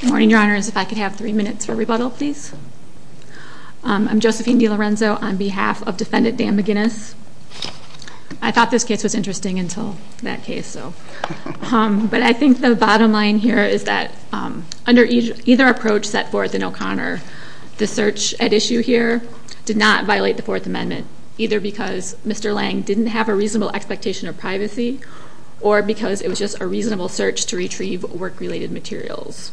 Good morning, Your Honors. If I could have three minutes for rebuttal, please. I'm Josephine DeLorenzo on behalf of defendant Dan McGinnis. I thought this case was interesting until that case, so. But I think the bottom line here is that under either approach set forth in O'Connor, the search at issue here did not violate the Fourth Amendment, either because Mr. Lange didn't have a reasonable expectation of privacy or because it was just a reasonable search to retrieve work-related materials.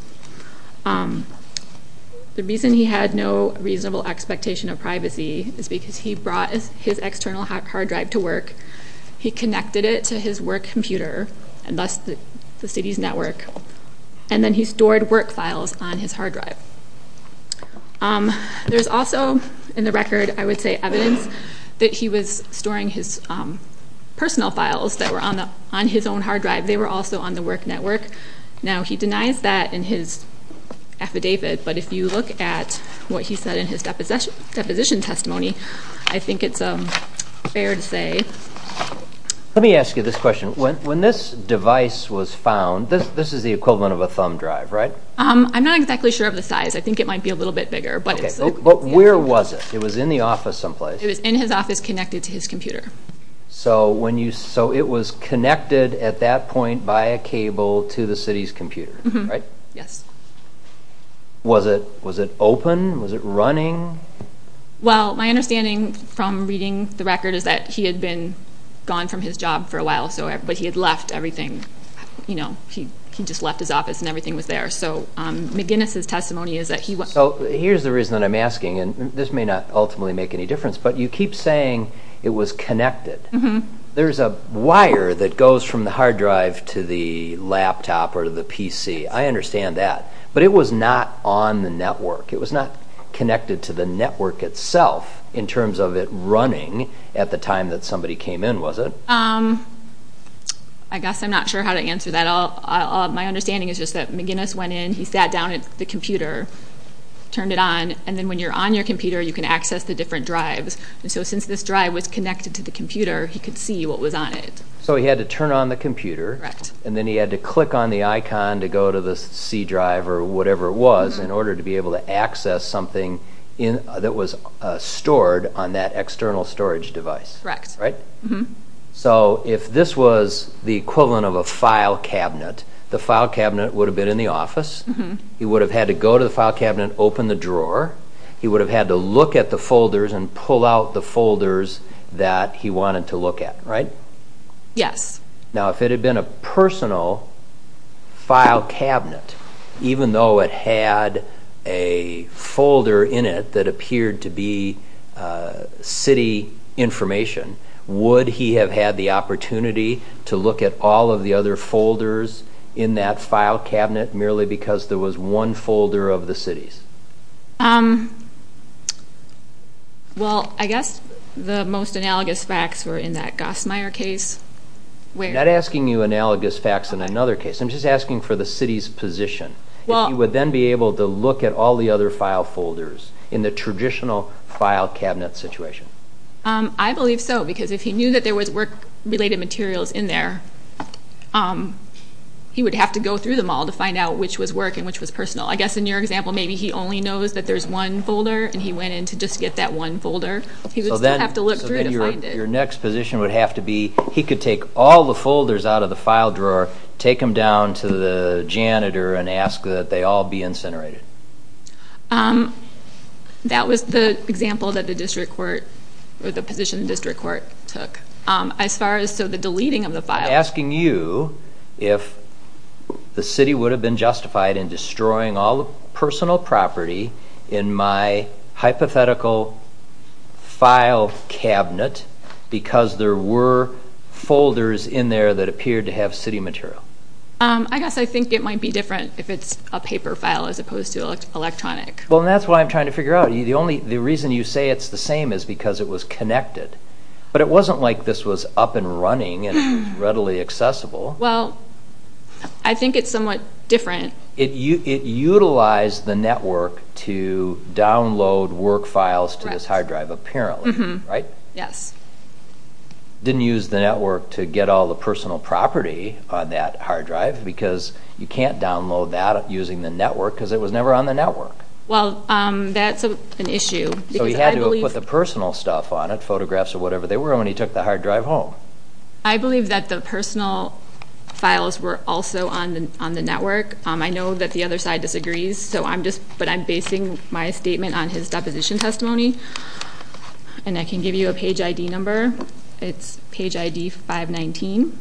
The reason he had no reasonable expectation of privacy is because he brought his external hard drive to work, he connected it to his work computer, and thus the city's network, and then he stored work files on his hard drive. There's also in the record, I would say, evidence that he was storing his personal files that were on his own hard drive. They were also on the work network. Now, he denies that in his affidavit, but if you look at what he said in his deposition testimony, I think it's fair to say. Let me ask you this question. When this device was found, this is the equivalent of a thumb drive, right? I'm not exactly sure of the size. I think it might be a little bit bigger. But where was it? It was in the office someplace? It was in his office connected to his computer. So it was connected at that point by a cable to the city's computer, right? Yes. Was it open? Was it running? Well, my understanding from reading the record is that he had been gone from his job for a while, but he had left everything, you know, he just left his office and everything was there. So McGinnis' testimony is that he... So here's the reason that I'm asking, and this may not ultimately make any difference, but you keep saying it was connected. There's a wire that goes from the hard drive to the laptop or the PC. I understand that, but it was not on the network. It was not connected to the network itself in terms of it running at the time that somebody came in, was it? I guess I'm not sure how to answer that. My understanding is just that McGinnis went in, he sat down at the computer, turned it on, and then when you're on your computer, you can access the different drives. And so since this drive was connected to the computer, he could see what was on it. So he had to turn on the computer, and then he had to click on the icon to go to the C drive or whatever it was in order to be able to access something that was stored on that external storage device, right? So if this was the equivalent of a file cabinet, the file cabinet would have been in the office, he would have had to go to the file cabinet, open the folders, and pull out the folders that he wanted to look at, right? Yes. Now if it had been a personal file cabinet, even though it had a folder in it that appeared to be city information, would he have had the opportunity to look at all of the other folders in that file cabinet merely because there was one folder of the city's? Well, I guess the most analogous facts were in that Gosmeier case. I'm not asking you analogous facts in another case, I'm just asking for the city's position. Well, he would then be able to look at all the other file folders in the traditional file cabinet situation. I believe so, because if he knew that there was work-related materials in there, he would have to go through them all to find out which was work and which was personal. I guess in your example, maybe he only knows that there's one folder, and he went in to just get that one folder. He would still have to look through to find it. So then your next position would have to be, he could take all the folders out of the file drawer, take them down to the janitor, and ask that they all be incinerated. That was the example that the district court, or the position the district court took. As far as, the deleting of the file. I'm asking you if the city would have been justified in destroying all the personal property in my hypothetical file cabinet, because there were folders in there that appeared to have city material. I guess I think it might be different if it's a paper file as opposed to electronic. Well, that's why I'm trying to figure out. The only, the reason you say it's the same is because it was connected. But it wasn't like this was up and running and readily accessible. Well, I think it's somewhat different. It utilized the network to download work files to this hard drive, apparently, right? Yes. Didn't use the network to get all the personal property on that hard drive, because you can't download that using the network, because it was put the personal stuff on it, photographs or whatever they were, when he took the hard drive home. I believe that the personal files were also on the network. I know that the other side disagrees, so I'm just, but I'm basing my statement on his deposition testimony. And I can give you a page ID number. It's page ID 519.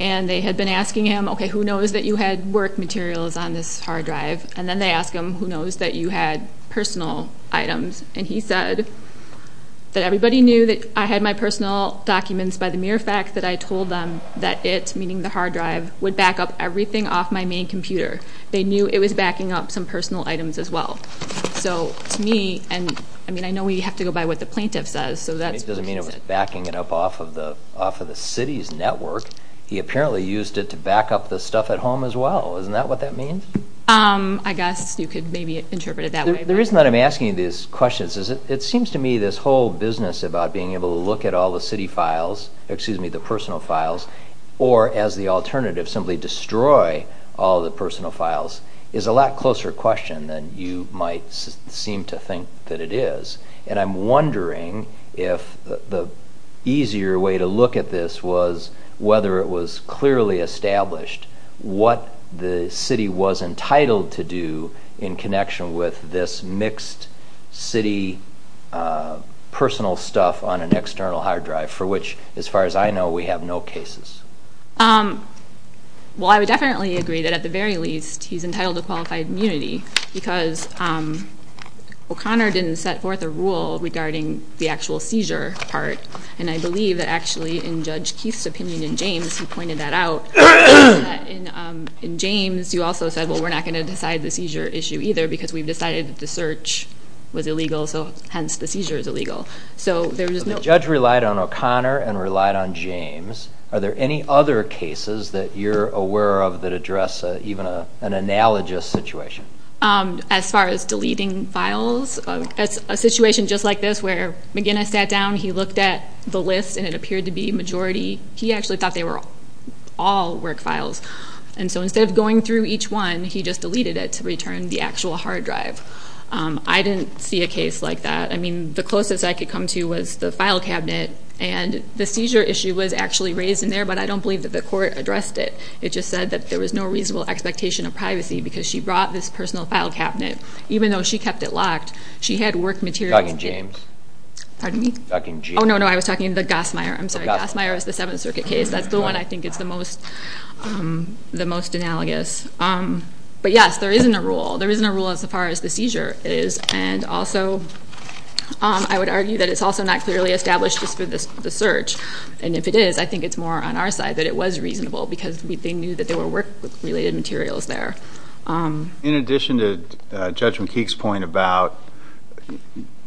And they had been asking him, okay, who knows that you had work materials on this hard drive? And then they ask him, who knows that you had personal items? And he said that everybody knew that I had my personal documents by the mere fact that I told them that it, meaning the hard drive, would back up everything off my main computer. They knew it was backing up some personal items as well. So to me, and I mean, I know we have to go by what the plaintiff says, so that's... It doesn't mean it was backing it up off of the city's network. He apparently used it to back up the stuff at home as well. Isn't that what that means? I guess you could maybe interpret it that way. The reason that I'm asking you these questions is it seems to me this whole business about being able to look at all the city files, excuse me, the personal files, or as the alternative, simply destroy all the personal files, is a lot closer question than you might seem to think that it is. And I'm wondering if the easier way to look at this was whether it was clearly established what the city was entitled to do in connection with this mixed city personal stuff on an external hard drive, for which, as far as I know, we have no cases. Well, I would definitely agree that at the very least, he's entitled to qualified immunity, because O'Connor didn't set forth a rule regarding the actual seizure part, and I believe that in Judge Keith's opinion in James, he pointed that out. In James, you also said, well, we're not going to decide the seizure issue either, because we've decided that the search was illegal, so hence the seizure is illegal. So there's no... The judge relied on O'Connor and relied on James. Are there any other cases that you're aware of that address even an analogous situation? As far as deleting files, a situation just like this, where McGinnis sat down, he looked at the list, and it appeared to be majority... He actually thought they were all work files. And so instead of going through each one, he just deleted it to return the actual hard drive. I didn't see a case like that. I mean, the closest I could come to was the file cabinet, and the seizure issue was actually raised in there, but I don't believe that the court addressed it. It just said that there was no reasonable expectation of privacy, because she brought this personal file cabinet, even though she kept it locked. She had work materials in it. You're talking James. Pardon me? Talking James. Oh, no, no. I was talking the Gassmeyer. I'm sorry. Gassmeyer is the Seventh Circuit case. That's the one I think is the most analogous. But yes, there isn't a rule. There isn't a rule as far as the seizure is. And also, I would argue that it's also not clearly established just for the search. And if it is, I think it's more on our side that it was reasonable, because they knew that there were work related materials there. In addition to Judge McKeek's point about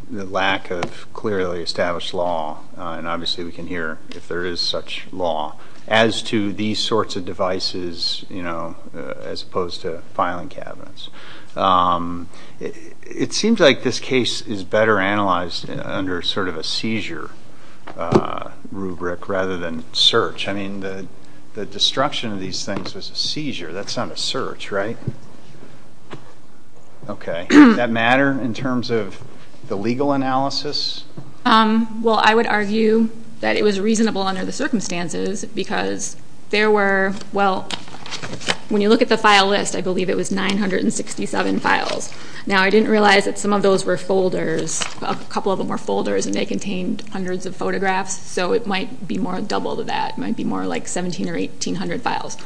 the lack of clearly established law, and obviously we can hear if there is such law, as to these sorts of devices, you know, as opposed to filing cabinets. It seems like this case is better analyzed under sort of a seizure rubric rather than search. I mean, the destruction of seizure, that's not a search, right? Okay. Does that matter in terms of the legal analysis? Well, I would argue that it was reasonable under the circumstances, because there were, well, when you look at the file list, I believe it was 967 files. Now, I didn't realize that some of those were folders. A couple of them were folders, and they contained hundreds of photographs. So it might be more double to that. It might be more like 1,700 or 1,800 files.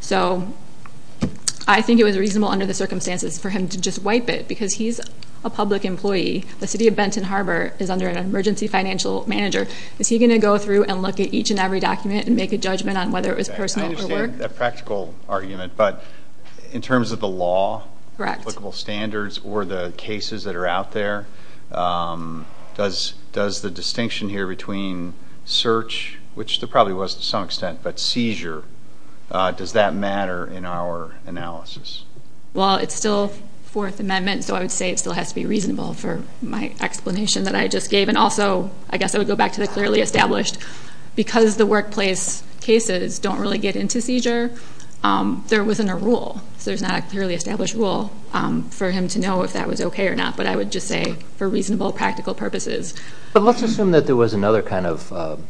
So I think it was reasonable under the circumstances for him to just wipe it, because he's a public employee. The city of Benton Harbor is under an emergency financial manager. Is he going to go through and look at each and every document and make a judgment on whether it was personal or work? I understand that practical argument, but in terms of the law, applicable standards, or the cases that are out there, does the distinction here between search, which there probably was to some extent, but seizure, does that matter in our analysis? Well, it's still Fourth Amendment, so I would say it still has to be reasonable for my explanation that I just gave. And also, I guess I would go back to the clearly established. Because the workplace cases don't really get into seizure, they're within a rule. So there's not a clearly established rule for him to know if that was okay or not, but I would just say for reasonable practical purposes. But let's assume that there was another kind of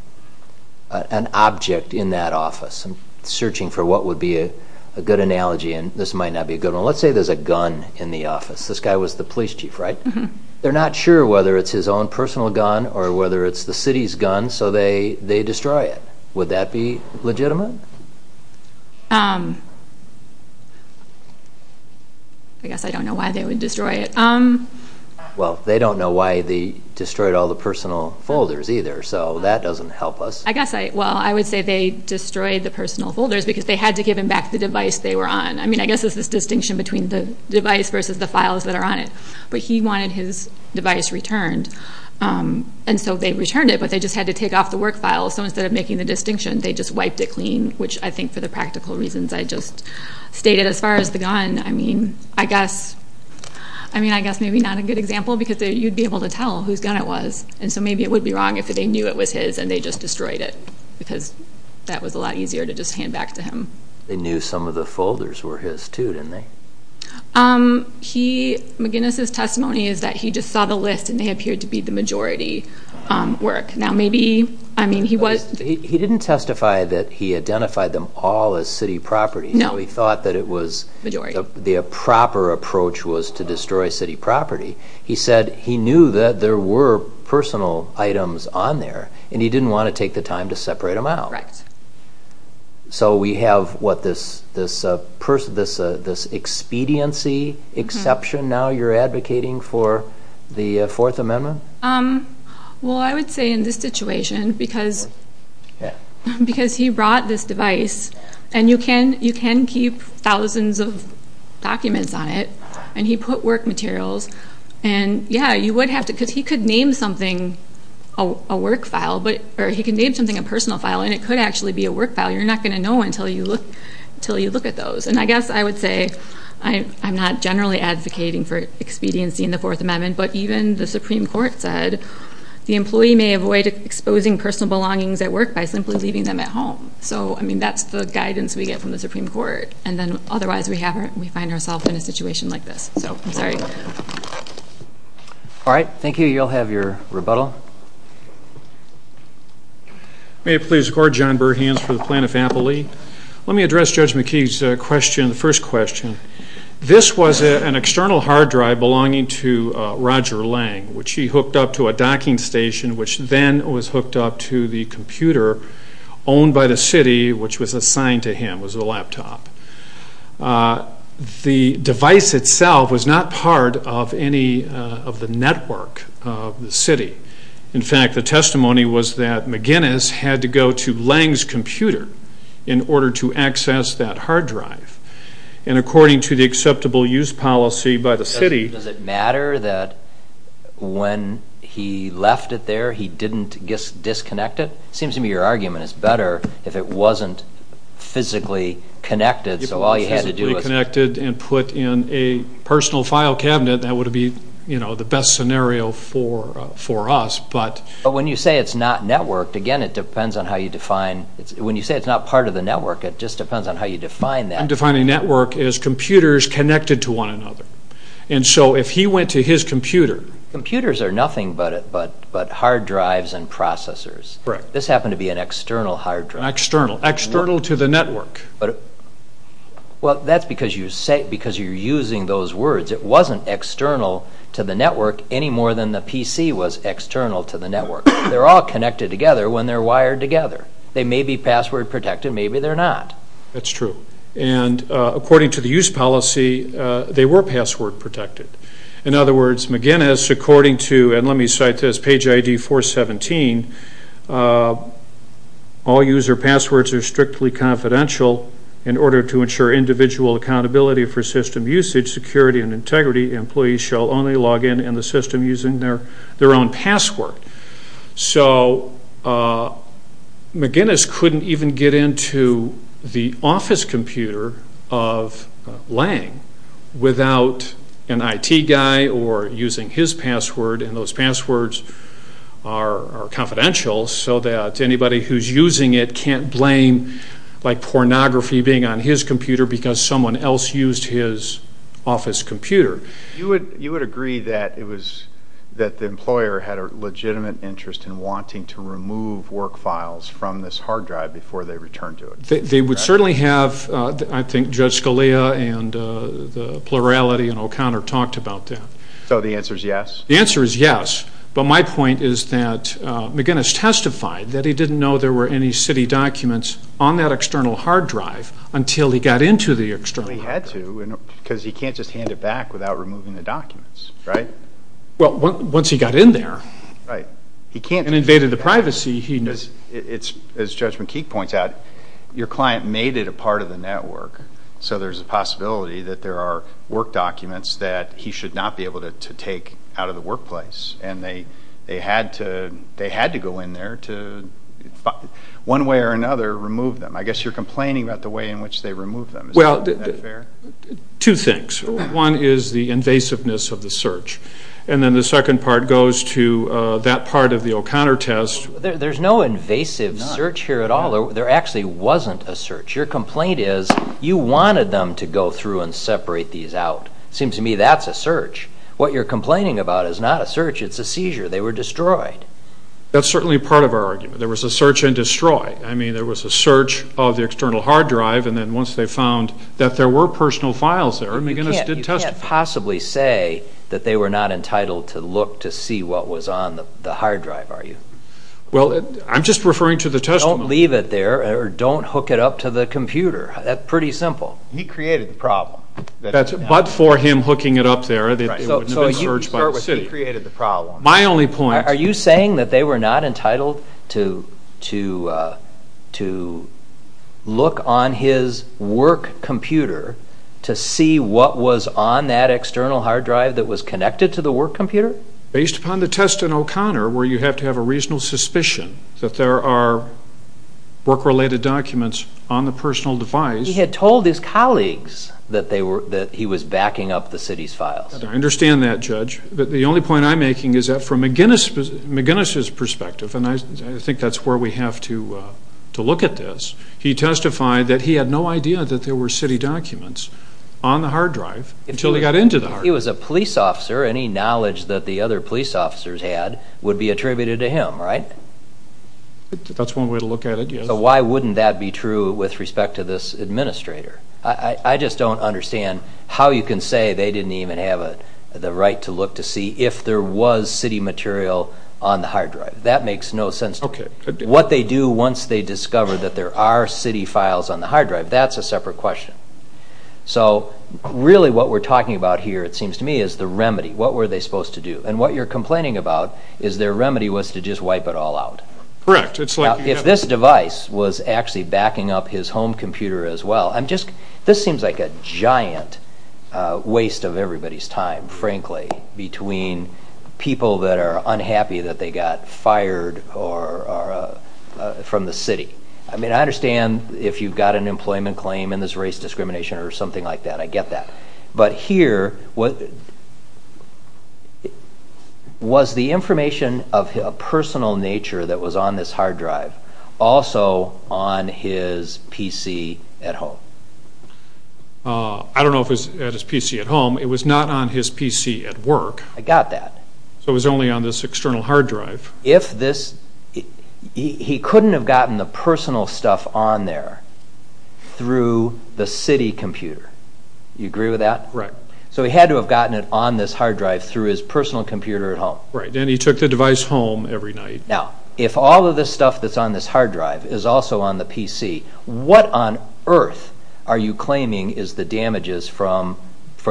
an object in that office. I'm searching for what would be a good analogy, and this might not be a good one. Let's say there's a gun in the office. This guy was the police chief, right? They're not sure whether it's his own personal gun or whether it's the city's gun, so they destroy it. Would that be legitimate? I guess I don't know why they would destroy it. Well, they don't know why they destroyed all the personal folders either, so that doesn't help us. I guess, well, I would say they destroyed the personal folders because they had to give him back the device they were on. I mean, I guess it's this distinction between the device versus the files that are on it. But he wanted his device returned, and so they returned it, but they just had to take off the work files. So instead of making the distinction, they just wiped it clean, which I think for the practical reasons I just stated as far as the gun, I mean, I guess maybe not a good example because you'd be able to tell whose gun it was. And so maybe it would be wrong if they knew it was his and they just destroyed it because that was a lot easier to just hand back to him. They knew some of the folders were his too, didn't they? McGinnis's testimony is that he just saw the list and they appeared to be the majority work. Now, maybe, I mean, he was... He didn't testify that he identified them all as city property. No. He thought that it was... Majority. The proper approach was to destroy city property. He said he knew that there were personal items on there and he didn't want to take the time to separate them out. Right. So we have, what, this expediency exception now you're advocating for the Fourth Amendment? Well, I would say in this situation because he brought this device and you can keep thousands of documents on it and he put work materials and yeah, you would have to... Because he could name something a work file or he can name something a personal file and it could actually be a work file. You're not going to know until you look at those. And I guess I would say I'm not generally advocating for expediency in the Fourth Amendment, but even the Supreme Court said the employee may avoid exposing personal belongings at work by simply leaving them at home. So, I mean, that's the guidance we get from the Supreme Court. And then otherwise we find ourselves in a situation like this. So, I'm sorry. All right. Thank you. You'll have your rebuttal. May it please the Court, John Burkhans for the Plaintiff Ampli. Let me address Judge McKee's question, the first question. This was an external hard drive belonging to Roger Lang, which he hooked up to a docking station, which then was hooked up to the computer owned by the city, which was assigned to him, was a laptop. The device itself was not part of any of the network of the city. In fact, the testimony was that McGinnis had to go to Lang's computer in order to access that hard drive. And according to the acceptable use policy by the city... Does it matter that when he left it there, he didn't disconnect it? Seems to me your argument is better if it wasn't physically connected, so all you had to do was... If it was physically connected and put in a personal file cabinet, that would be, you know, the best scenario for us, but... But when you say it's not networked, again, it depends on how you define... When you say it's not part of the network, it just depends on how you define that. I'm defining network as computers connected to one another. And so if he went to his computer... Computers are nothing but hard drives and processors. Correct. This happened to be an external hard drive. External. External to the network. Well, that's because you're using those words. It wasn't external to the network any more than the PC was external to the network. They're all connected together when they're wired together. They may be password protected, maybe they're not. That's true. And according to the use policy, they were password protected. In other words, according to, and let me cite this, page ID 417, all user passwords are strictly confidential in order to ensure individual accountability for system usage, security, and integrity. Employees shall only log in in the system using their own password. So McGinnis couldn't even get into the office computer of Lange without an IT guy or using his password, and those passwords are confidential so that anybody who's using it can't blame pornography being on his computer because someone else used his office computer. You would agree that the employer had a legitimate interest in wanting to remove work files from this hard drive before they returned to it? They would certainly have. I think Judge Scalia and the plurality in O'Connor talked about that. So the answer is yes? The answer is yes, but my point is that McGinnis testified that he didn't know there were any city documents on that external hard drive until he got into the external hard drive. Because he can't just hand it back without removing the documents, right? Well, once he got in there and invaded the privacy, he knows. As Judge McKeek points out, your client made it a part of the network, so there's a possibility that there are work documents that he should not be able to take out of the workplace, and they had to go in there to one way or another remove them. I guess you're complaining about the two things. One is the invasiveness of the search, and then the second part goes to that part of the O'Connor test. There's no invasive search here at all. There actually wasn't a search. Your complaint is you wanted them to go through and separate these out. It seems to me that's a search. What you're complaining about is not a search. It's a seizure. They were destroyed. That's certainly part of our argument. There was a search and destroy. I mean, it was a search of the external hard drive, and then once they found that there were personal files there, McGinnis did test them. You can't possibly say that they were not entitled to look to see what was on the hard drive, are you? Well, I'm just referring to the testimony. Don't leave it there, or don't hook it up to the computer. That's pretty simple. He created the problem. But for him hooking it up there, it wouldn't have been searched by the city. He created the problem. My only point... Are you saying that they were not entitled to look on his work computer to see what was on that external hard drive that was connected to the work computer? Based upon the test in O'Connor, where you have to have a reasonable suspicion that there are work-related documents on the personal device... He had told his colleagues that he was backing up the city's files. I understand that, Judge. But the only point I'm making is that from McGinnis' perspective, and I think that's where we have to look at this, he testified that he had no idea that there were city documents on the hard drive until he got into the hard drive. If he was a police officer, any knowledge that the other police officers had would be attributed to him, right? That's one way to look at it, yes. So why wouldn't that be true with respect to this administrator? I just don't understand how you can say they didn't even have the right to look to see if there was city material on the hard drive. That makes no sense to me. What they do once they discover that there are city files on the hard drive, that's a separate question. So really what we're talking about here, it seems to me, is the remedy. What were they supposed to do? And what you're complaining about is their remedy was to just wipe it all out. Correct. It's like... If this device was actually backing up his home computer as well... This seems like a giant waste of everybody's time, frankly, between people that are unhappy that they got fired from the city. I mean, I understand if you've got an employment claim in this race discrimination or something like that, I get that. But here, was the information of a personal nature that was on this hard drive also on his PC at home? I don't know if it was at his PC at home. It was not on his PC at work. I got that. So it was only on this external hard drive. If this... He couldn't have gotten the personal stuff on there through the city computer. You agree with that? Right. So he had to have gotten it on this hard drive through his personal computer at home. Right, and he took the device home every night. Now, if all of this stuff that's on this hard drive is also on the PC, what on earth are you claiming is the damages from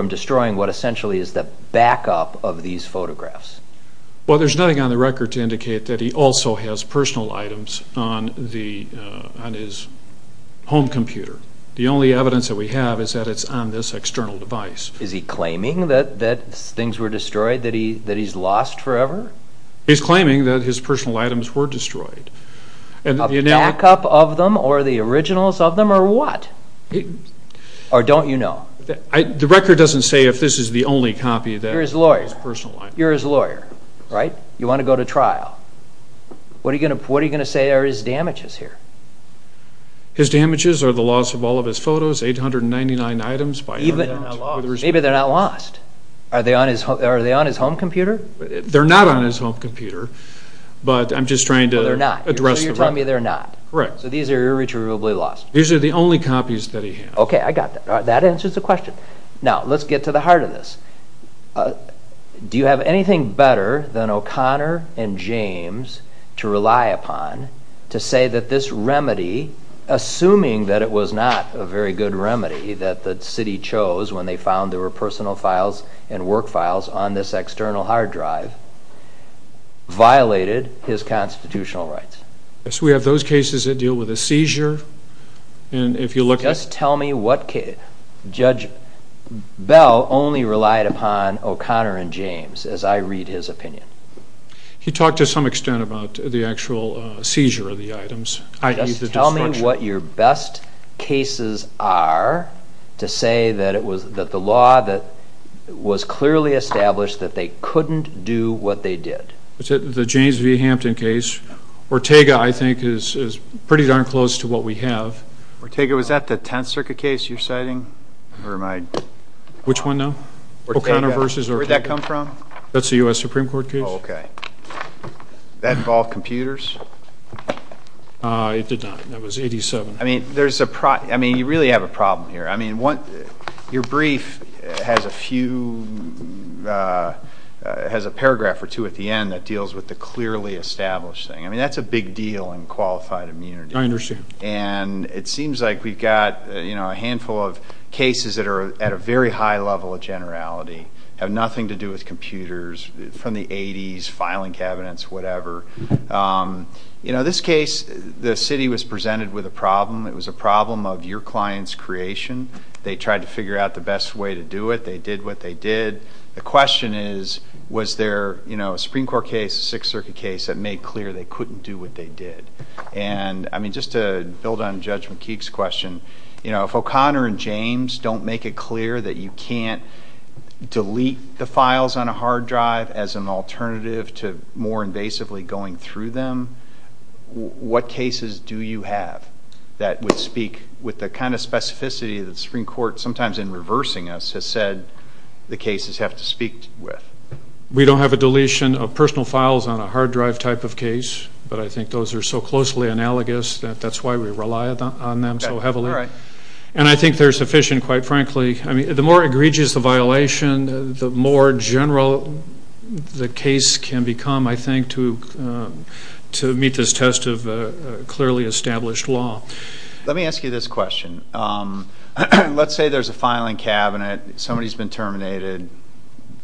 destroying what essentially is the backup of these photographs? Well, there's nothing on the record to indicate that he also has personal items on his home computer. The only evidence that we have is that it's on this external device. Is he claiming that things were destroyed, that he's lost forever? He's claiming that his personal items were destroyed. The backup of them, or the originals of them, or what? Or don't you know? The record doesn't say if this is the only copy of his personal items. You're his lawyer, right? You want to go to trial. What are you going to say are his damages here? His damages are the loss of all of his photos, 899 items. Maybe they're not lost. Are they on his home computer? They're not on his home computer, but I'm just trying to address the record. You're telling me they're not? Correct. So these are irretrievably lost? These are the only copies that he has. Okay, I got that. That answers the question. Now, let's get to the heart of this. Do you have anything better than O'Connor and James to rely upon to say that this remedy, assuming that it was not a very good remedy that the city chose when they found there were personal files and work files on this external hard drive, violated his constitutional rights? Yes, we have those cases that deal with a seizure. And if you look at... Just tell me what case... Judge Bell only relied upon O'Connor and James as I read his opinion. He talked to some extent about the actual seizure of the items, i.e. the destruction. Tell me what your best cases are to say that the law was clearly established that they couldn't do what they did. The James v. Hampton case. Ortega, I think, is pretty darn close to what we have. Ortega, was that the Tenth Circuit case you're citing? Which one now? O'Connor v. Ortega. Where'd that come from? That's a U.S. Supreme Court case. Oh, okay. That involved computers? It did not. It was 87. I mean, you really have a problem here. Your brief has a paragraph or two at the end that deals with the clearly established thing. I mean, that's a big deal in qualified immunity. I understand. And it seems like we've got a handful of cases that are at a very high level of generality, have nothing to do with computers from the 80s, filing cabinets, whatever. You know, this case, the city was presented with a problem. It was a problem of your client's creation. They tried to figure out the best way to do it. They did what they did. The question is, was there, you know, a Supreme Court case, Sixth Circuit case, that made clear they couldn't do what they did? And I mean, just to build on Judge McKeague's question, you know, if O'Connor and James don't make it clear that you can't delete the files on a hard drive as an alternative to more invasively going through them, what cases do you have that would speak with the kind of specificity that the Supreme Court, sometimes in reversing us, has said the cases have to speak with? We don't have a deletion of personal files on a hard drive type of case, but I think those are so closely analogous that that's why we rely on them so heavily. All right. And I think they're sufficient, quite frankly. I mean, the more egregious the violation, the more general the case can become, I think, to meet this test of a clearly established law. Let me ask you this question. Let's say there's a filing cabinet. Somebody's been terminated.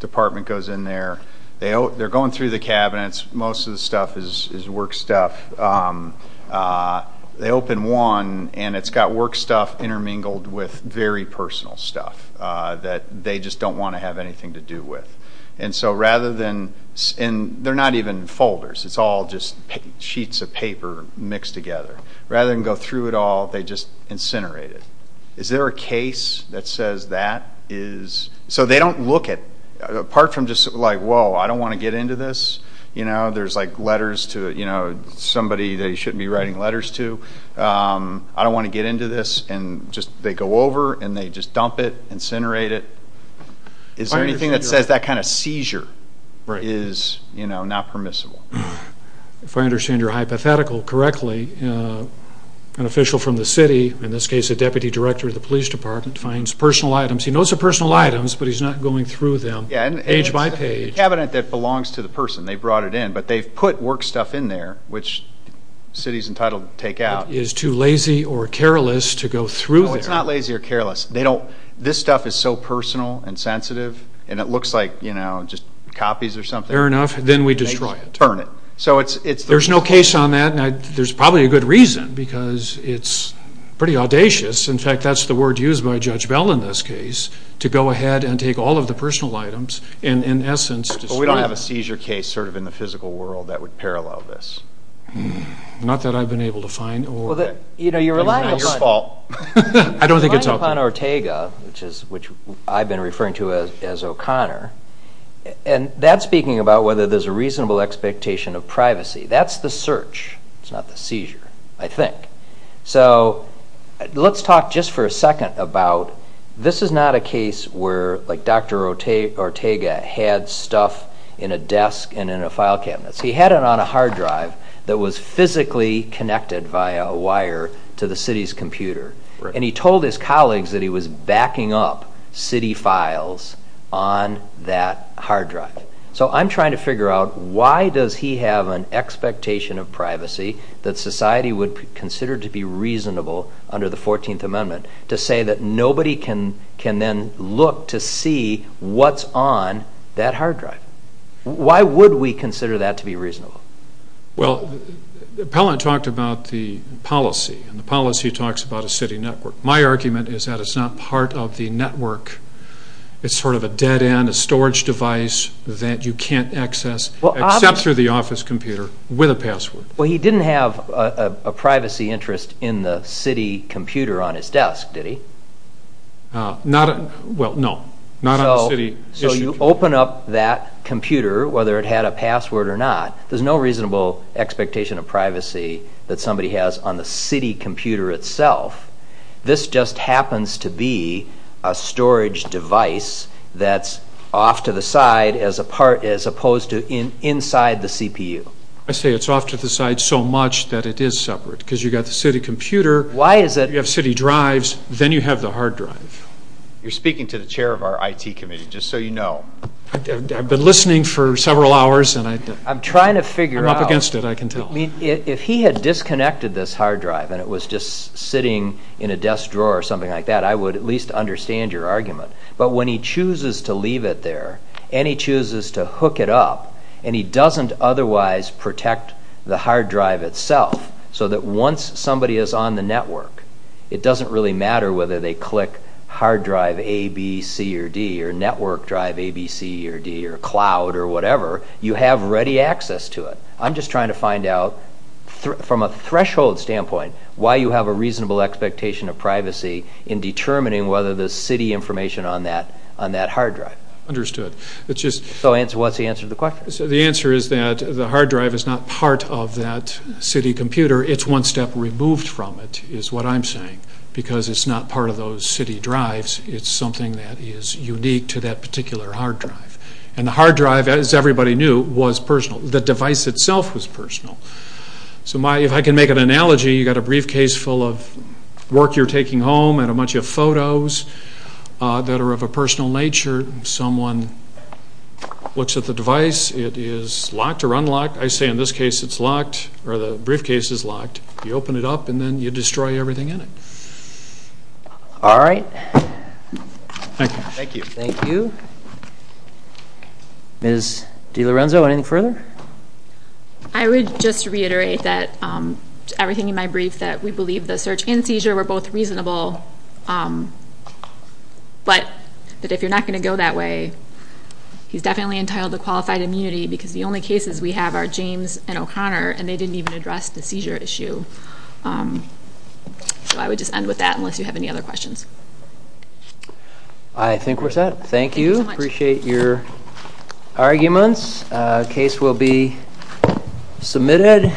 Department goes in there. They're going through the cabinets. Most of the stuff is work stuff. They open one, and it's got work stuff intermingled with very personal stuff that they just don't want to have anything to do with. And so rather than, and they're not even folders. It's all just sheets of paper mixed together. Rather than go through it all, they just incinerate it. Is there a case that says that is, so they don't look at, apart from just like, whoa, I don't want to get into this. There's like letters to somebody they shouldn't be writing letters to. I don't want to get into this. And they go over, and they just dump it, incinerate it. Is there anything that says that kind of seizure is not permissible? If I understand your hypothetical correctly, an official from the city, in this case, a deputy director of the police department, finds personal items. He knows the personal items, but he's not going through them page by page. A cabinet that belongs to the person. They brought it in, but they've put work stuff in there, which city's entitled to take out. Is too lazy or careless to go through there. No, it's not lazy or careless. They don't, this stuff is so personal and sensitive, and it looks like, you know, just copies or something. Fair enough. Then we destroy it. Burn it. So it's. There's no case on that, and there's probably a good reason, because it's pretty audacious. In fact, that's the word used by Judge Bell in this case, to go ahead and take all of the personal items, and in essence. But we don't have a seizure case sort of in the physical world that would parallel this. Not that I've been able to find, or. Well, you know, you're relying upon. It's your fault. I don't think it's okay. You're relying upon Ortega, which is, which I've been referring to as O'Connor, and that's speaking about whether there's a reasonable expectation of privacy. That's the search. It's not the seizure, I think. So let's talk just for a second about. This is not a case where, like, Dr. Ortega had stuff in a desk and in a file cabinet. He had it on a hard drive that was physically connected via a wire to the city's computer, and he told his colleagues that he was backing up city files on that hard drive. So I'm trying to figure out why does he have an expectation of privacy that society would consider to be reasonable under the 14th Amendment to say that nobody can then look to see what's on that hard drive? Why would we consider that to be reasonable? Well, Appellant talked about the policy, and the policy talks about a city network. My argument is that it's not part of the network. It's sort of a dead end, a storage device that you can't access, except through the office computer with a password. Well, he didn't have a privacy interest in the city computer on his desk, did he? Not, well, no. Not on the city issue. So you open up that computer, whether it had a password or not, there's no reasonable expectation of privacy that somebody has on the city computer itself. This just happens to be a storage device that's off to the side as opposed to inside the CPU. I say it's off to the side so much that it is separate, because you've got the city computer, you have city drives, then you have the hard drive. You're speaking to the chair of our IT committee, just so you know. I've been listening for several hours, and I'm up against it, I can tell. If he had disconnected this hard drive and it was just sitting in a desk drawer or something like that, I would at least understand your argument. But when he chooses to leave it there, and he chooses to hook it up, and he doesn't otherwise protect the hard drive itself, so that once somebody is on the network, it doesn't really matter whether they click hard drive A, B, C, or D, or network drive A, B, C, or D, or cloud, or whatever, you have ready access to it. I'm just trying to find out, from a threshold standpoint, why you have a reasonable expectation of privacy in determining whether the city information on that hard drive. Understood. What's the answer to the question? The answer is that the hard drive is not part of that city computer. It's one step removed from it, is what I'm saying, because it's not part of those city drives. It's something that is unique to that particular hard drive. And the hard drive, as everybody knew, was personal. The device itself was personal. So if I can make an analogy, you've got a briefcase full of work you're taking home, and a bunch of photos that are of a personal nature. Someone looks at the device. It is locked or unlocked. I say, in this case, it's locked, or the briefcase is locked. You open it up, and then you destroy everything in it. All right. Thank you. Thank you. Ms. DiLorenzo, anything further? I would just reiterate that everything in my brief, that we believe the search and seizure were both reasonable, but that if you're not going to go that way, he's definitely entitled to qualified immunity, because the only cases we have are James and O'Connor, and they didn't even address the seizure issue. So I would just end with that, unless you have any other questions. I think we're set. Thank you. Appreciate your arguments. The case will be submitted.